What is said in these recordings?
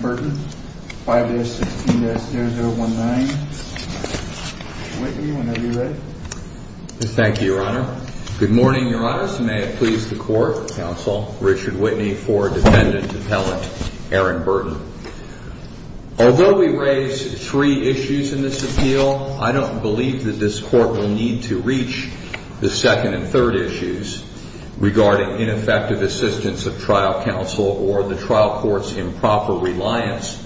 Burton. 5-016-0019. Whitney, whenever you're ready. Thank you, Your Honor. Good morning, Your Honors. May it please the Court, counsel Richard Whitney for defendant appellant Aaron Burton. Although we raise three issues in this appeal, I don't believe that this court will need to reach the second and third issues regarding ineffective assistance of trial counsel or the trial court's improper reliance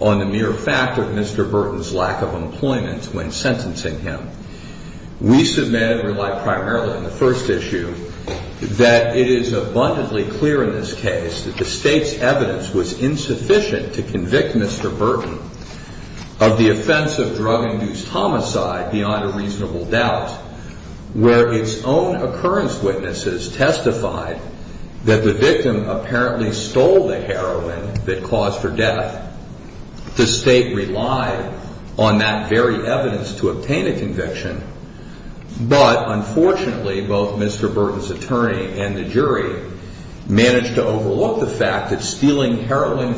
on the mere fact of Mr. Burton's lack of employment when sentencing him. We submit and rely primarily on the first issue that it is abundantly clear in this case that the state's evidence was insufficient to convict Mr. Burton of the where its own occurrence witnesses testified that the victim apparently stole the heroin that caused her death. The state relied on that very evidence to obtain a conviction, but unfortunately both Mr. Burton's attorney and the jury managed to overlook the fact that delivering heroin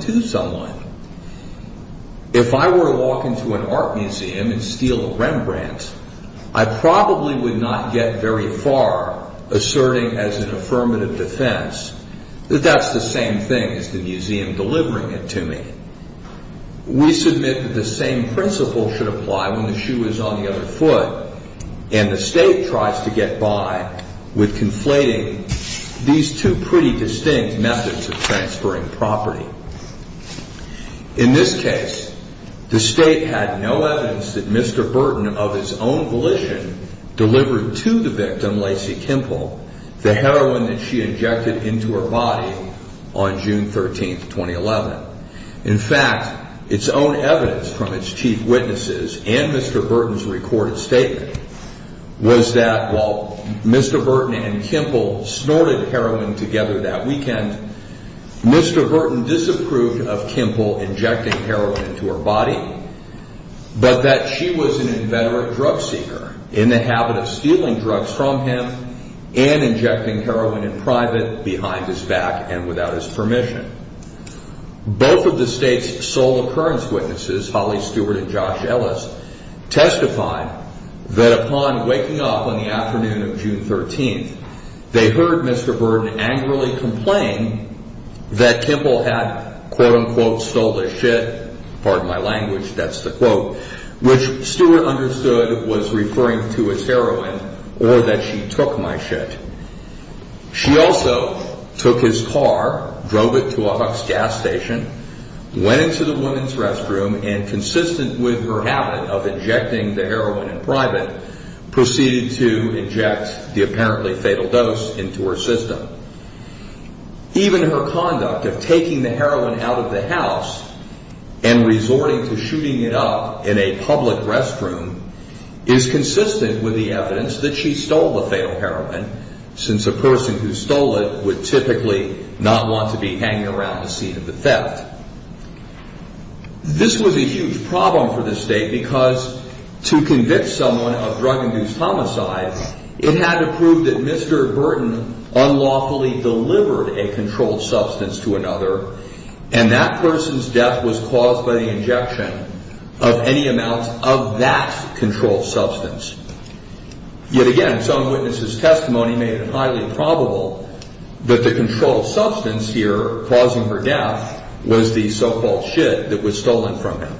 to someone. If I were to walk into an art museum and steal a Rembrandt, I probably would not get very far asserting as an affirmative defense that that's the same thing as the museum delivering it to me. We submit that the same principle should apply when the shoe is on the other foot, and the state tries to get by with conflating these two pretty distinct methods of transferring property. In this case, the state had no evidence that Mr. Burton of his own volition delivered to the victim, Lacey Kimple, the heroin that she injected into her body on June 13, 2011. In fact, its own evidence from its chief witnesses and Mr. Burton's recorded statement was that while Mr. Burton and Kimple snorted heroin together that weekend, Mr. Burton disapproved of Kimple injecting heroin into her body, but that she was an inveterate drug seeker in the habit of stealing drugs from him and injecting heroin in private behind his back and without his permission. Both of the state's sole occurrence witnesses, Holly Stewart and Josh Ellis, testified that upon waking up on the afternoon of June 13, they heard Mr. Burton angrily complain that Kimple had, quote unquote, stole his shit, pardon my language, that's the quote, which Stewart understood was referring to his heroin or that she took my shit. She also took his car, drove it to a HUCS gas station, went into the woman's restroom, and consistent with her habit of injecting the heroin in private, proceeded to inject the apparently fatal dose into her system. Even her conduct of taking the heroin out of the house and resorting to shooting it up in a public restroom is consistent with the evidence that she stole the fatal heroin, since a person who stole it would typically not want to be hanging around the scene of the theft. This was a huge problem for the state because to convince someone of drug-induced homicides, it had to prove that Mr. Burton unlawfully delivered a controlled substance to another, and that person's death was caused by the injection of any amount of that controlled substance. Yet again, some witnesses' testimony made it highly probable that the controlled substance here causing her death was the so-called shit that was stolen from her.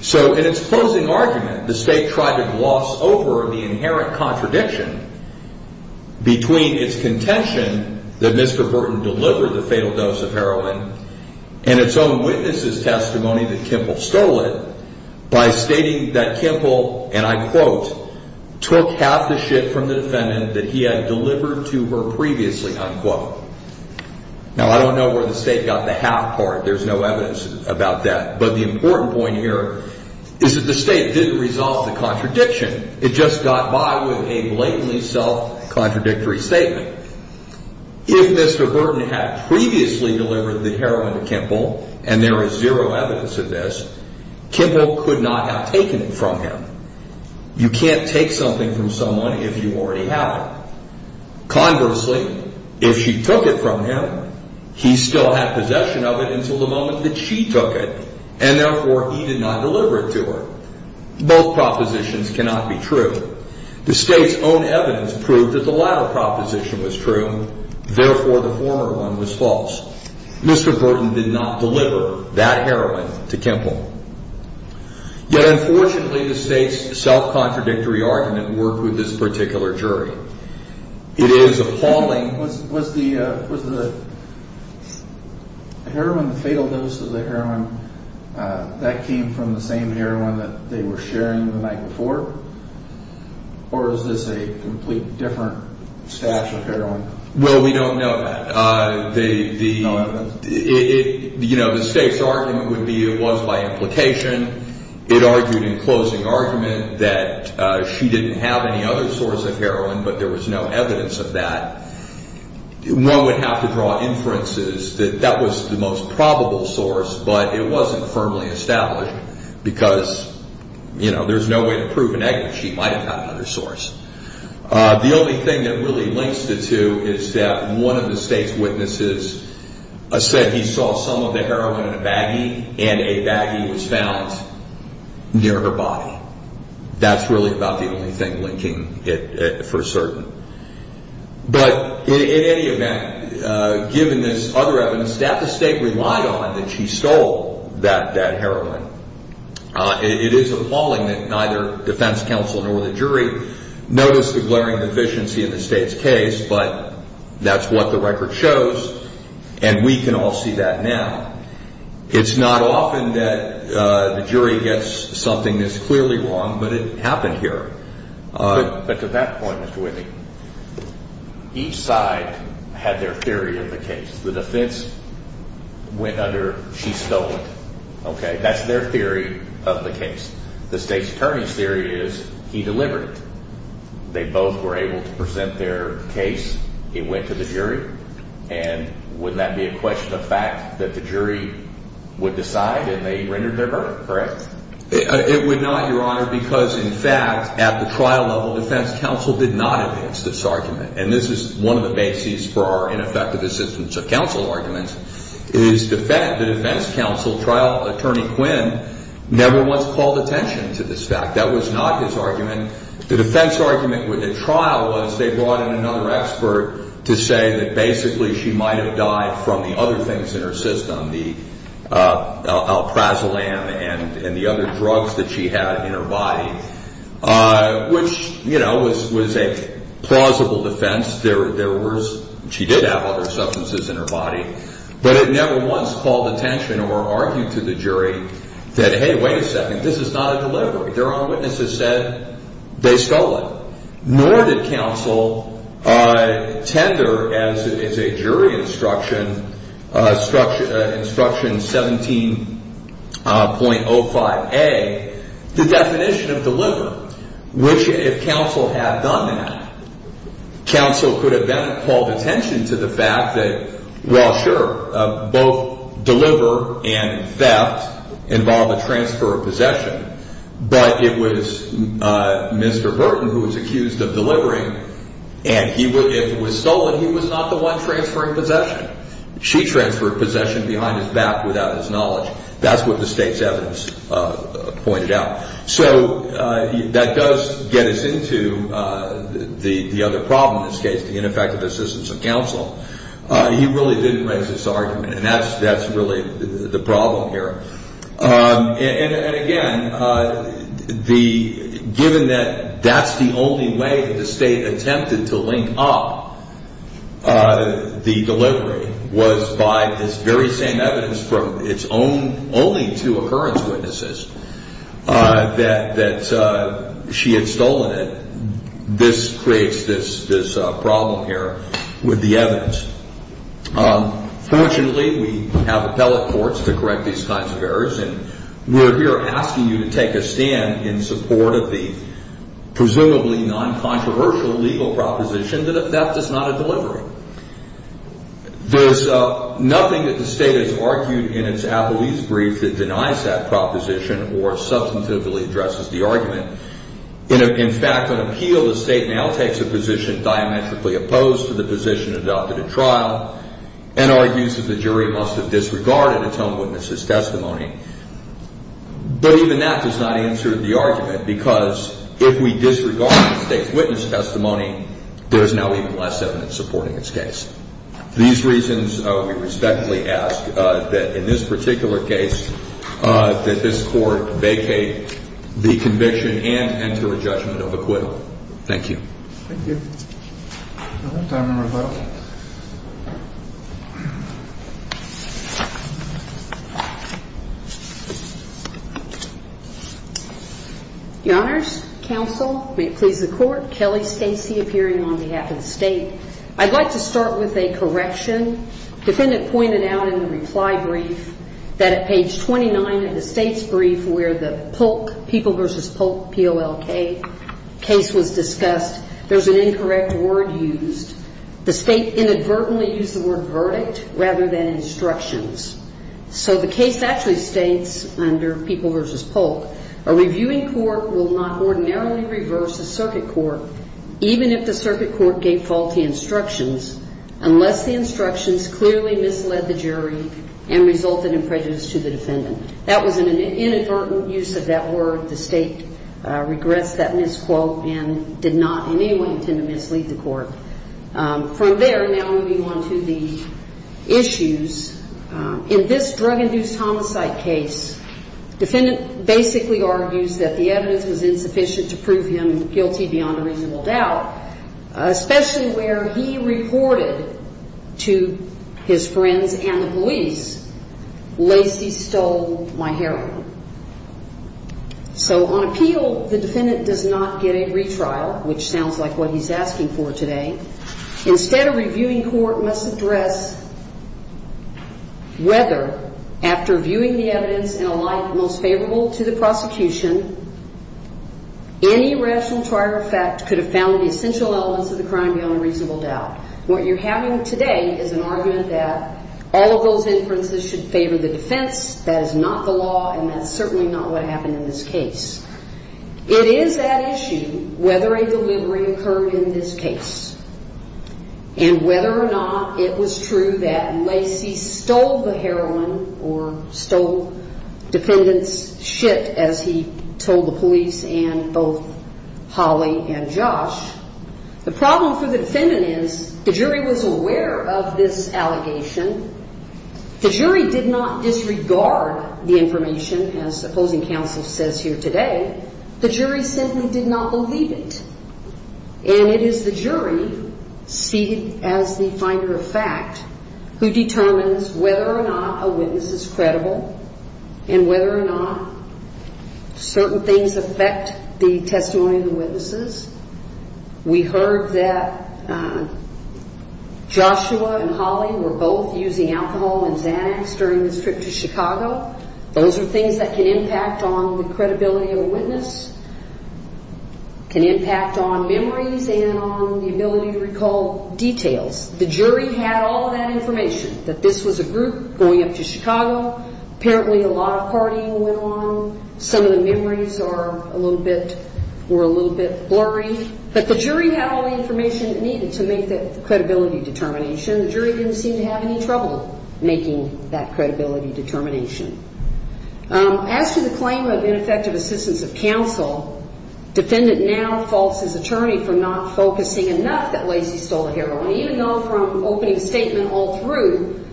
So in its closing argument, the state tried to gloss over the inherent contradiction between its contention that Mr. Burton delivered the fatal dose of heroin and its own witnesses' testimony that Kimple stole it by stating that Kimple, and I quote, took half the shit from the defendant that he had delivered to her previously, unquote. Now, I don't know where the state got the half part. There's no evidence about that, but the important point here is that the state didn't resolve the contradiction. It just got by with a blatantly self-contradictory statement. If Mr. Burton had previously delivered the heroin to Kimple, and there is zero evidence of this, Kimple could not have taken it from him. You can't take something from someone if you already have it. Conversely, if she took it from him, he still had possession of it until the moment that she took it, and therefore he did not deliver it to her. Both propositions cannot be true. The state's own evidence proved that the latter proposition was true. Therefore, the former one was false. Mr. Burton did not deliver that heroin to Kimple. Yet, unfortunately, the state's self-contradictory argument worked with this particular jury. It is appalling. Was the heroin, the fatal dose of the heroin, that came from the same heroin that they were sharing the night before, or is this a completely different stash of heroin? Well, we don't know that. The state's argument would be it was by implication. It argued in closing argument that she didn't have any other source of heroin, but there was no evidence of that. One would have to draw inferences that that was the most you know, there's no way to prove a negative. She might have had another source. The only thing that really links the two is that one of the state's witnesses said he saw some of the heroin in a baggie, and a baggie was found near her body. That's really about the only thing linking it for certain. But in any event, given this other evidence, that the state relied on that she stole that heroin, it is appalling that neither defense counsel nor the jury noticed the glaring deficiency in the state's case, but that's what the record shows, and we can all see that now. It's not often that the jury gets something this clearly wrong, but it happened here. But to that point, Mr. Whitney, each side had their theory of the case. The defense went under, she stole it. Okay, that's their theory of the case. The state's attorney's theory is he delivered it. They both were able to present their case. It went to the jury, and wouldn't that be a question of fact that the jury would decide, and they rendered their verdict, correct? It would not, your honor, because in fact, at the trial level, defense counsel did not advance this argument, and this is one of the bases for our ineffective assistance of counsel arguments, is the defense counsel trial attorney Quinn never once called attention to this fact. That was not his argument. The defense argument with the trial was they brought in another expert to say that basically she might have died from the other things in her system, the alprazolam and the other drugs that she had in her body, which was a plausible defense. There was, she did have other substances in her body, but it never once called attention or argued to the jury that, hey, wait a second, this is not a delivery. Their own witnesses said they stole it. Nor did counsel tender as a jury instruction, instruction 17.05a, the definition of deliver, which if counsel had done that, counsel could have then called attention to the fact that, well, sure, both deliver and theft involve a transfer of possession, but it was Mr. Burton who was accused of delivering, and if it was stolen, he was not the one transferring possession. She transferred possession behind his back without his knowledge. That's what the state's evidence pointed out. So that does get us into the other problem in this case, the ineffective assistance of counsel. He really didn't raise this argument, and that's really the problem here. And again, given that that's the only way that the state attempted to only two occurrence witnesses that she had stolen it, this creates this problem here with the evidence. Fortunately, we have appellate courts to correct these kinds of errors, and we're here asking you to take a stand in support of the presumably non-controversial legal proposition that a theft is not a delivery. There's nothing that the state has argued in its brief that denies that proposition or substantively addresses the argument. In fact, on appeal, the state now takes a position diametrically opposed to the position adopted at trial and argues that the jury must have disregarded its own witnesses' testimony. But even that does not answer the argument, because if we disregard the state's witness testimony, there is now even less evidence supporting its case. These reasons, we respectfully ask that in this particular case, that this court vacate the conviction and enter a judgment of acquittal. Thank you. Thank you. Your Honors, counsel, may it please the Court, Kelly Stacey appearing on behalf of the state. I'd like to start with a correction. Defendant pointed out in the reply brief that at page 29 of the state's brief where the Polk, People v. Polk, P-O-L-K, case was discussed, there's an incorrect word used. The state inadvertently used the word verdict rather than instructions. So the case actually states under People v. Polk, a reviewing court will not ordinarily reverse a circuit court even if the circuit court gave faulty instructions unless the instructions clearly misled the jury and resulted in prejudice to the defendant. That was an inadvertent use of that word. The state regressed that misquote and did not in any way intend to mislead the court. From there, now moving on to the issues, in this drug-induced homicide case, defendant basically argues that the evidence was insufficient to prove him guilty beyond a reasonable doubt, especially where he reported to his friends and the police, Lacey stole my heroin. So on appeal, the defendant does not get a retrial, which sounds like what he's asking for today. Instead, a reviewing court must address whether, after viewing the evidence in a light most favorable to the prosecution, any rational trier of fact could have found the essential elements of the crime beyond a reasonable doubt. What you're having today is an argument that all of those inferences should favor the defense, that is not the law, and that's certainly not what happened in this case. It is at issue whether a delivery occurred in this case and whether or not it was true that Lacey stole the heroin or stole defendant's shit, as he told the police and both Holly and Josh. The problem for the defendant is the jury was aware of this allegation. The jury did not disregard the evidence. It is the jury seated as the finder of fact who determines whether or not a witness is credible and whether or not certain things affect the testimony of the witnesses. We heard that Joshua and Holly were both using alcohol and Xanax during this trip to Chicago. Those are things that can impact on the credibility of a witness, can impact on memories and on the ability to recall details. The jury had all of that information, that this was a group going up to Chicago. Apparently a lot of partying went on. Some of the memories are a little bit, were a little bit blurry. But the jury had all the information it needed to make the credibility determination. The jury didn't seem to have any trouble making that credibility determination. As to the claim of ineffective assistance of counsel, defendant now faults his attorney for not focusing enough that Lacey stole the heroin, even though from opening statement all through,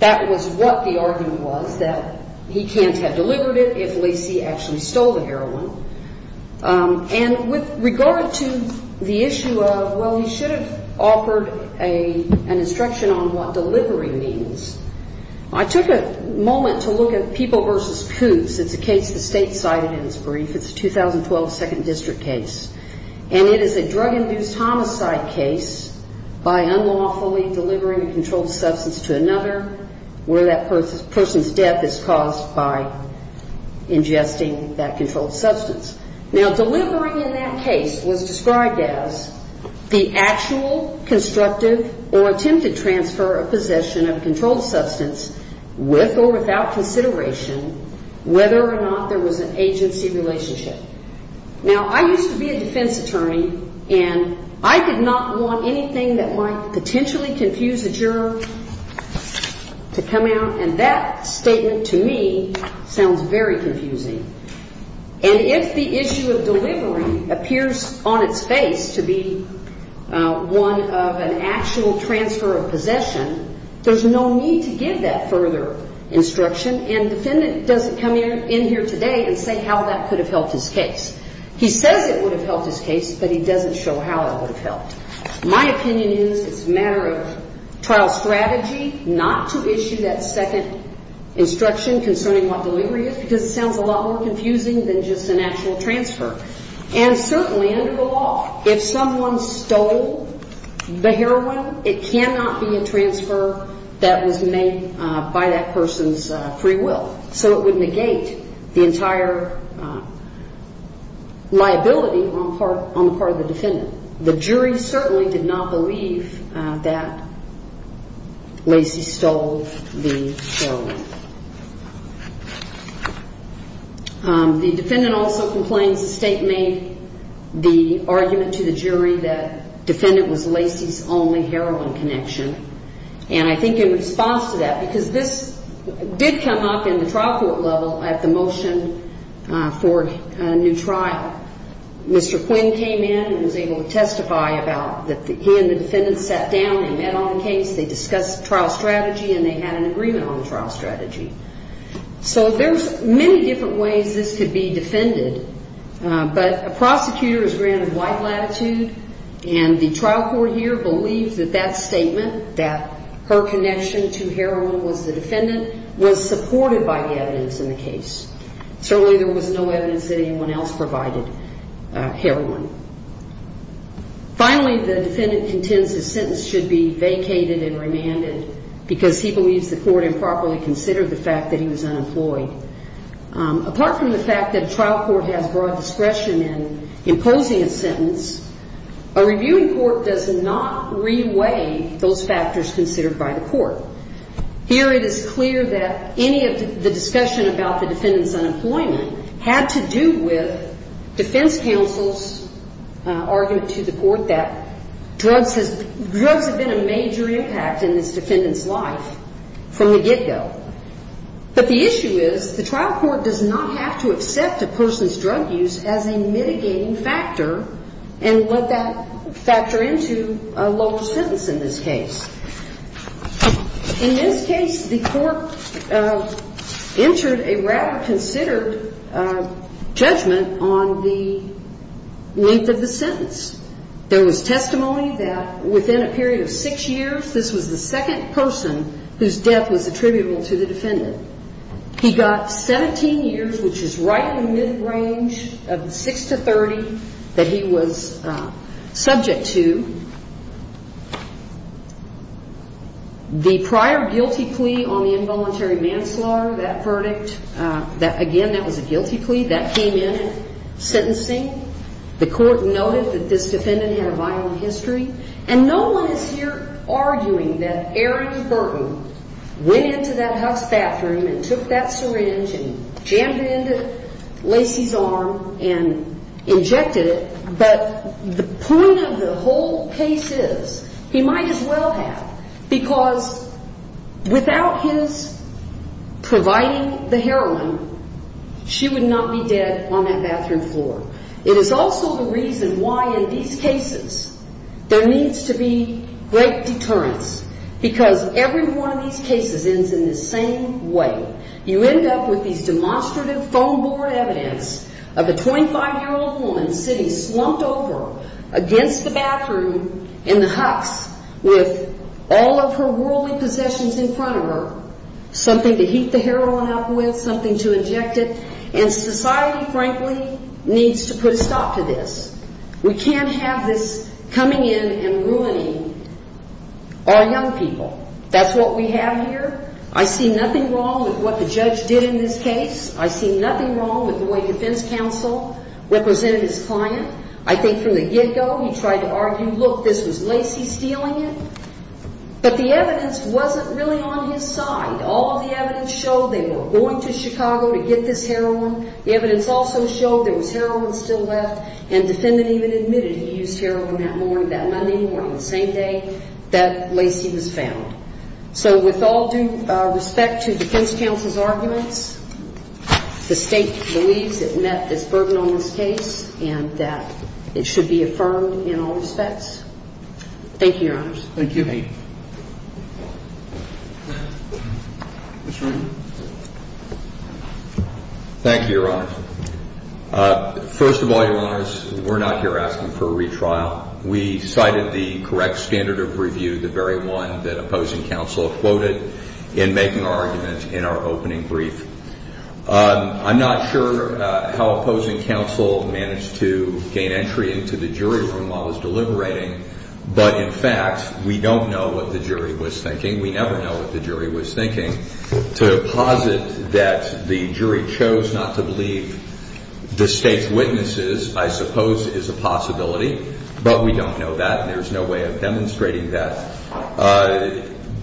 that was what the argument was, that he can't have delivered it if Lacey actually stole the on what delivering means. I took a moment to look at people versus coups. It's a case the state cited in its brief. It's a 2012 second district case. And it is a drug-induced homicide case by unlawfully delivering a controlled substance to another where that person's death is caused by ingesting that controlled substance. Now delivering in that case was described as the actual constructive or attempted transfer of possession of controlled substance with or without consideration whether or not there was an agency relationship. Now I used to be a defense attorney and I could not want anything that might potentially confuse a juror to come out and that statement to me sounds very confusing. And if the issue of delivery appears on its face to be one of an actual transfer of possession, there's no need to give that further instruction and defendant doesn't come in here today and say how that could have helped his case. He says it would have helped his case but he doesn't show how it would have helped. My opinion is it's a matter of trial strategy not to issue that second instruction concerning what delivery is because it sounds a lot more confusing than just an actual transfer. And certainly under the law, if someone stole the heroin, it cannot be a transfer that was made by that person's free will. So it would negate the entire liability on the part of the defendant. The jury certainly did not believe that was the case. The defendant also complains the state made the argument to the jury that defendant was Lacey's only heroin connection. And I think in response to that, because this did come up in the trial court level at the motion for a new trial, Mr. Quinn came in and was able to testify about that he and the defendant sat down and met on the case, they discussed trial strategy and they had an agreement on trial strategy. So there's many different ways this could be defended. But a prosecutor is granted wide latitude and the trial court here believes that that statement, that her connection to heroin was the defendant, was supported by the evidence in the case. Certainly there was no evidence that anyone else provided heroin. Finally, the defendant contends his sentence should be vacated and remanded because he believes the court improperly considered the fact that he was unemployed. Apart from the fact that trial court has broad discretion in imposing a sentence, a reviewing court does not re-weigh those factors considered by the court. Here it is clear that any of the discussion about the defendant's unemployment had to do with drugs have been a major impact in this defendant's life from the get-go. But the issue is the trial court does not have to accept a person's drug use as a mitigating factor and let that factor into a local sentence in this case. In this case, the court entered a rather considered judgment on the sentence. There was testimony that within a period of six years, this was the second person whose death was attributable to the defendant. He got 17 years, which is right in the mid-range of six to 30 that he was subject to. The prior guilty plea on the involuntary manslaughter, that verdict, again, that was a guilty plea, that came in sentencing. The court noted that this defendant had a violent history. And no one is here arguing that Aaron Burton went into that house bathroom and took that syringe and jammed it into Lacey's arm and injected it. But the point of the whole case is, he might as well have, because without his providing the heroin, she would not be dead on that bathroom floor. It is also the reason why in these cases there needs to be great deterrence, because every one of these cases ends in the same way. You end up with these demonstrative phone board evidence of a 25-year-old woman sitting slumped over against the bathroom in the hucks with all of her worldly possessions in front of her, something to heat the heroin up with, something to inject it. And society, frankly, needs to put a stop to this. We can't have this coming in and ruining our young people. That's what we have here. I see nothing wrong with what the judge did in this case. I see he tried to argue, look, this was Lacey stealing it. But the evidence wasn't really on his side. All of the evidence showed they were going to Chicago to get this heroin. The evidence also showed there was heroin still left. And the defendant even admitted he used heroin that morning, that Monday morning, the same day that Lacey was found. So with all due respect to the defense counsel's arguments, the state believes it met its burden on this case and that it should be affirmed in all respects. Thank you, Your Honors. Thank you. Thank you, Your Honors. First of all, Your Honors, we're not here asking for a retrial. We cited the correct standard of review, the very one that opposing counsel quoted in making our argument in our opening brief. I'm not sure how opposing counsel managed to jury room while it was deliberating. But in fact, we don't know what the jury was thinking. We never know what the jury was thinking. To posit that the jury chose not to believe the state's witnesses, I suppose, is a possibility. But we don't know that. And there's no way of demonstrating that.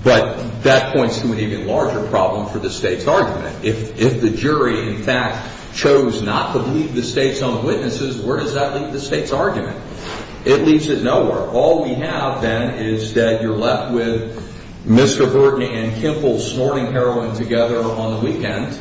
But that points to an even larger problem for the state's argument. If the jury, in fact, chose not to believe the state's own witnesses, where does that leave the state's argument? It leaves it nowhere. All we have, then, is that you're left with Mr. Burton and Kimple snorting heroin together on the weekend.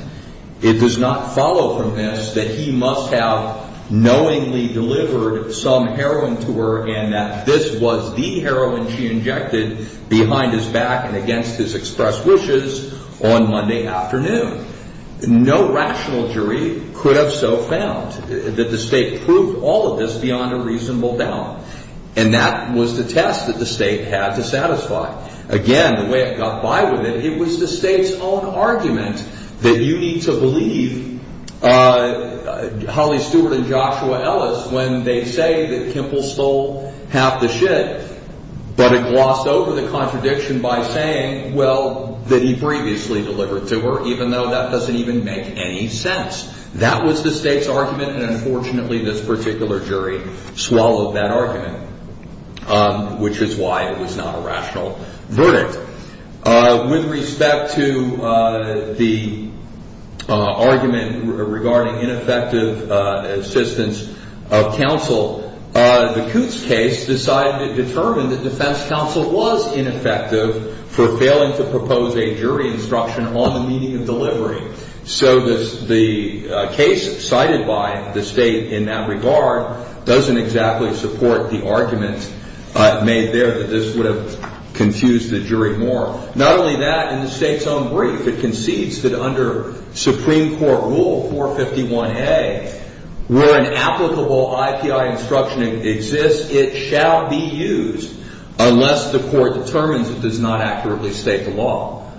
It does not follow from this that he must have knowingly delivered some heroin to her and that this was the heroin she injected behind his back and against his express wishes on Monday afternoon. No rational jury could have so found that the state proved all of this beyond a reasonable doubt. And that was the test that the state had to satisfy. Again, the way it got by with it, it was the state's own argument that you need to believe Holly Stewart and Joshua Ellis when they say that Kimple stole half the shit, but it glossed over the contradiction by saying, well, that he previously delivered to her, even though that this particular jury swallowed that argument, which is why it was not a rational verdict. With respect to the argument regarding ineffective assistance of counsel, the Coots case decided to determine that defense counsel was ineffective for failing to propose a jury instruction on the delivery. So the case cited by the state in that regard doesn't exactly support the argument made there that this would have confused the jury more. Not only that, in the state's own brief, it concedes that under Supreme Court Rule 451A, where an applicable IPI instruction exists, it shall be used unless the court determines it does not accurately state the law.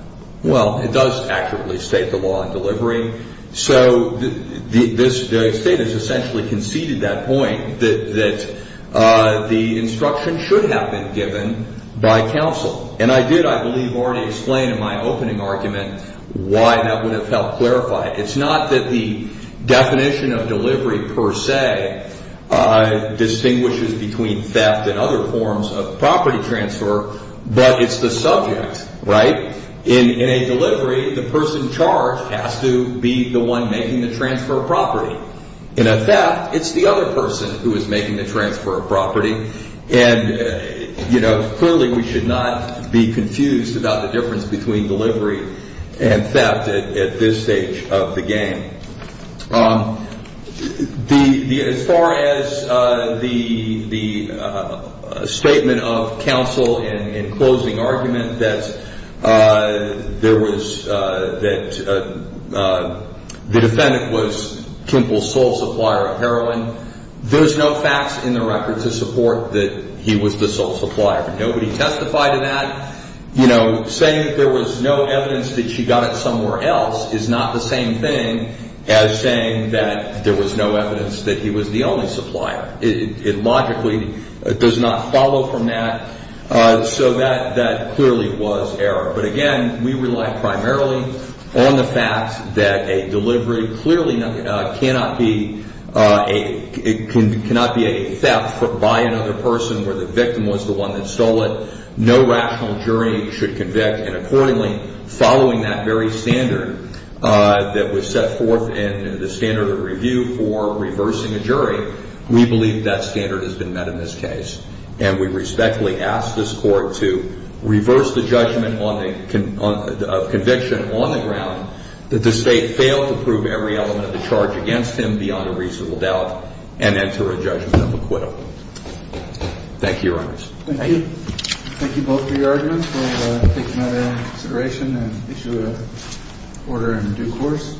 Well, it does accurately state the law in delivery. So the state has essentially conceded that point, that the instruction should have been given by counsel. And I did, I believe, already explain in my opening argument why that would have helped clarify it. It's not that the definition of delivery per se distinguishes between theft and other forms of property transfer, but it's the subject, right? In a delivery, the person charged has to be the one making the transfer of property. In a theft, it's the other person who is making the transfer of property. And, you know, clearly we should not be confused about the difference between delivery and theft at this stage of the game. As far as the statement of counsel in closing argument that the defendant was Temple's sole supplier of heroin, there's no facts in the record to support that he was the sole supplier. Nobody testified to that. You know, saying there was no evidence that she got it somewhere else is not the same thing as saying that there was no evidence that he was the only supplier. It logically does not follow from that. So that clearly was error. But again, we rely primarily on the fact that a delivery clearly cannot be a theft by another person where the victim was the one that stole it. No rational jury should convict. And accordingly, following that very standard that was set forth in the standard of review for reversing a jury, we believe that standard has been met in this case. And we respectfully ask this court to reverse the judgment of conviction on the ground that the state failed to prove every element of the charge against him beyond a reasonable doubt and enter a judgment of taking that into consideration and issue an order in due course.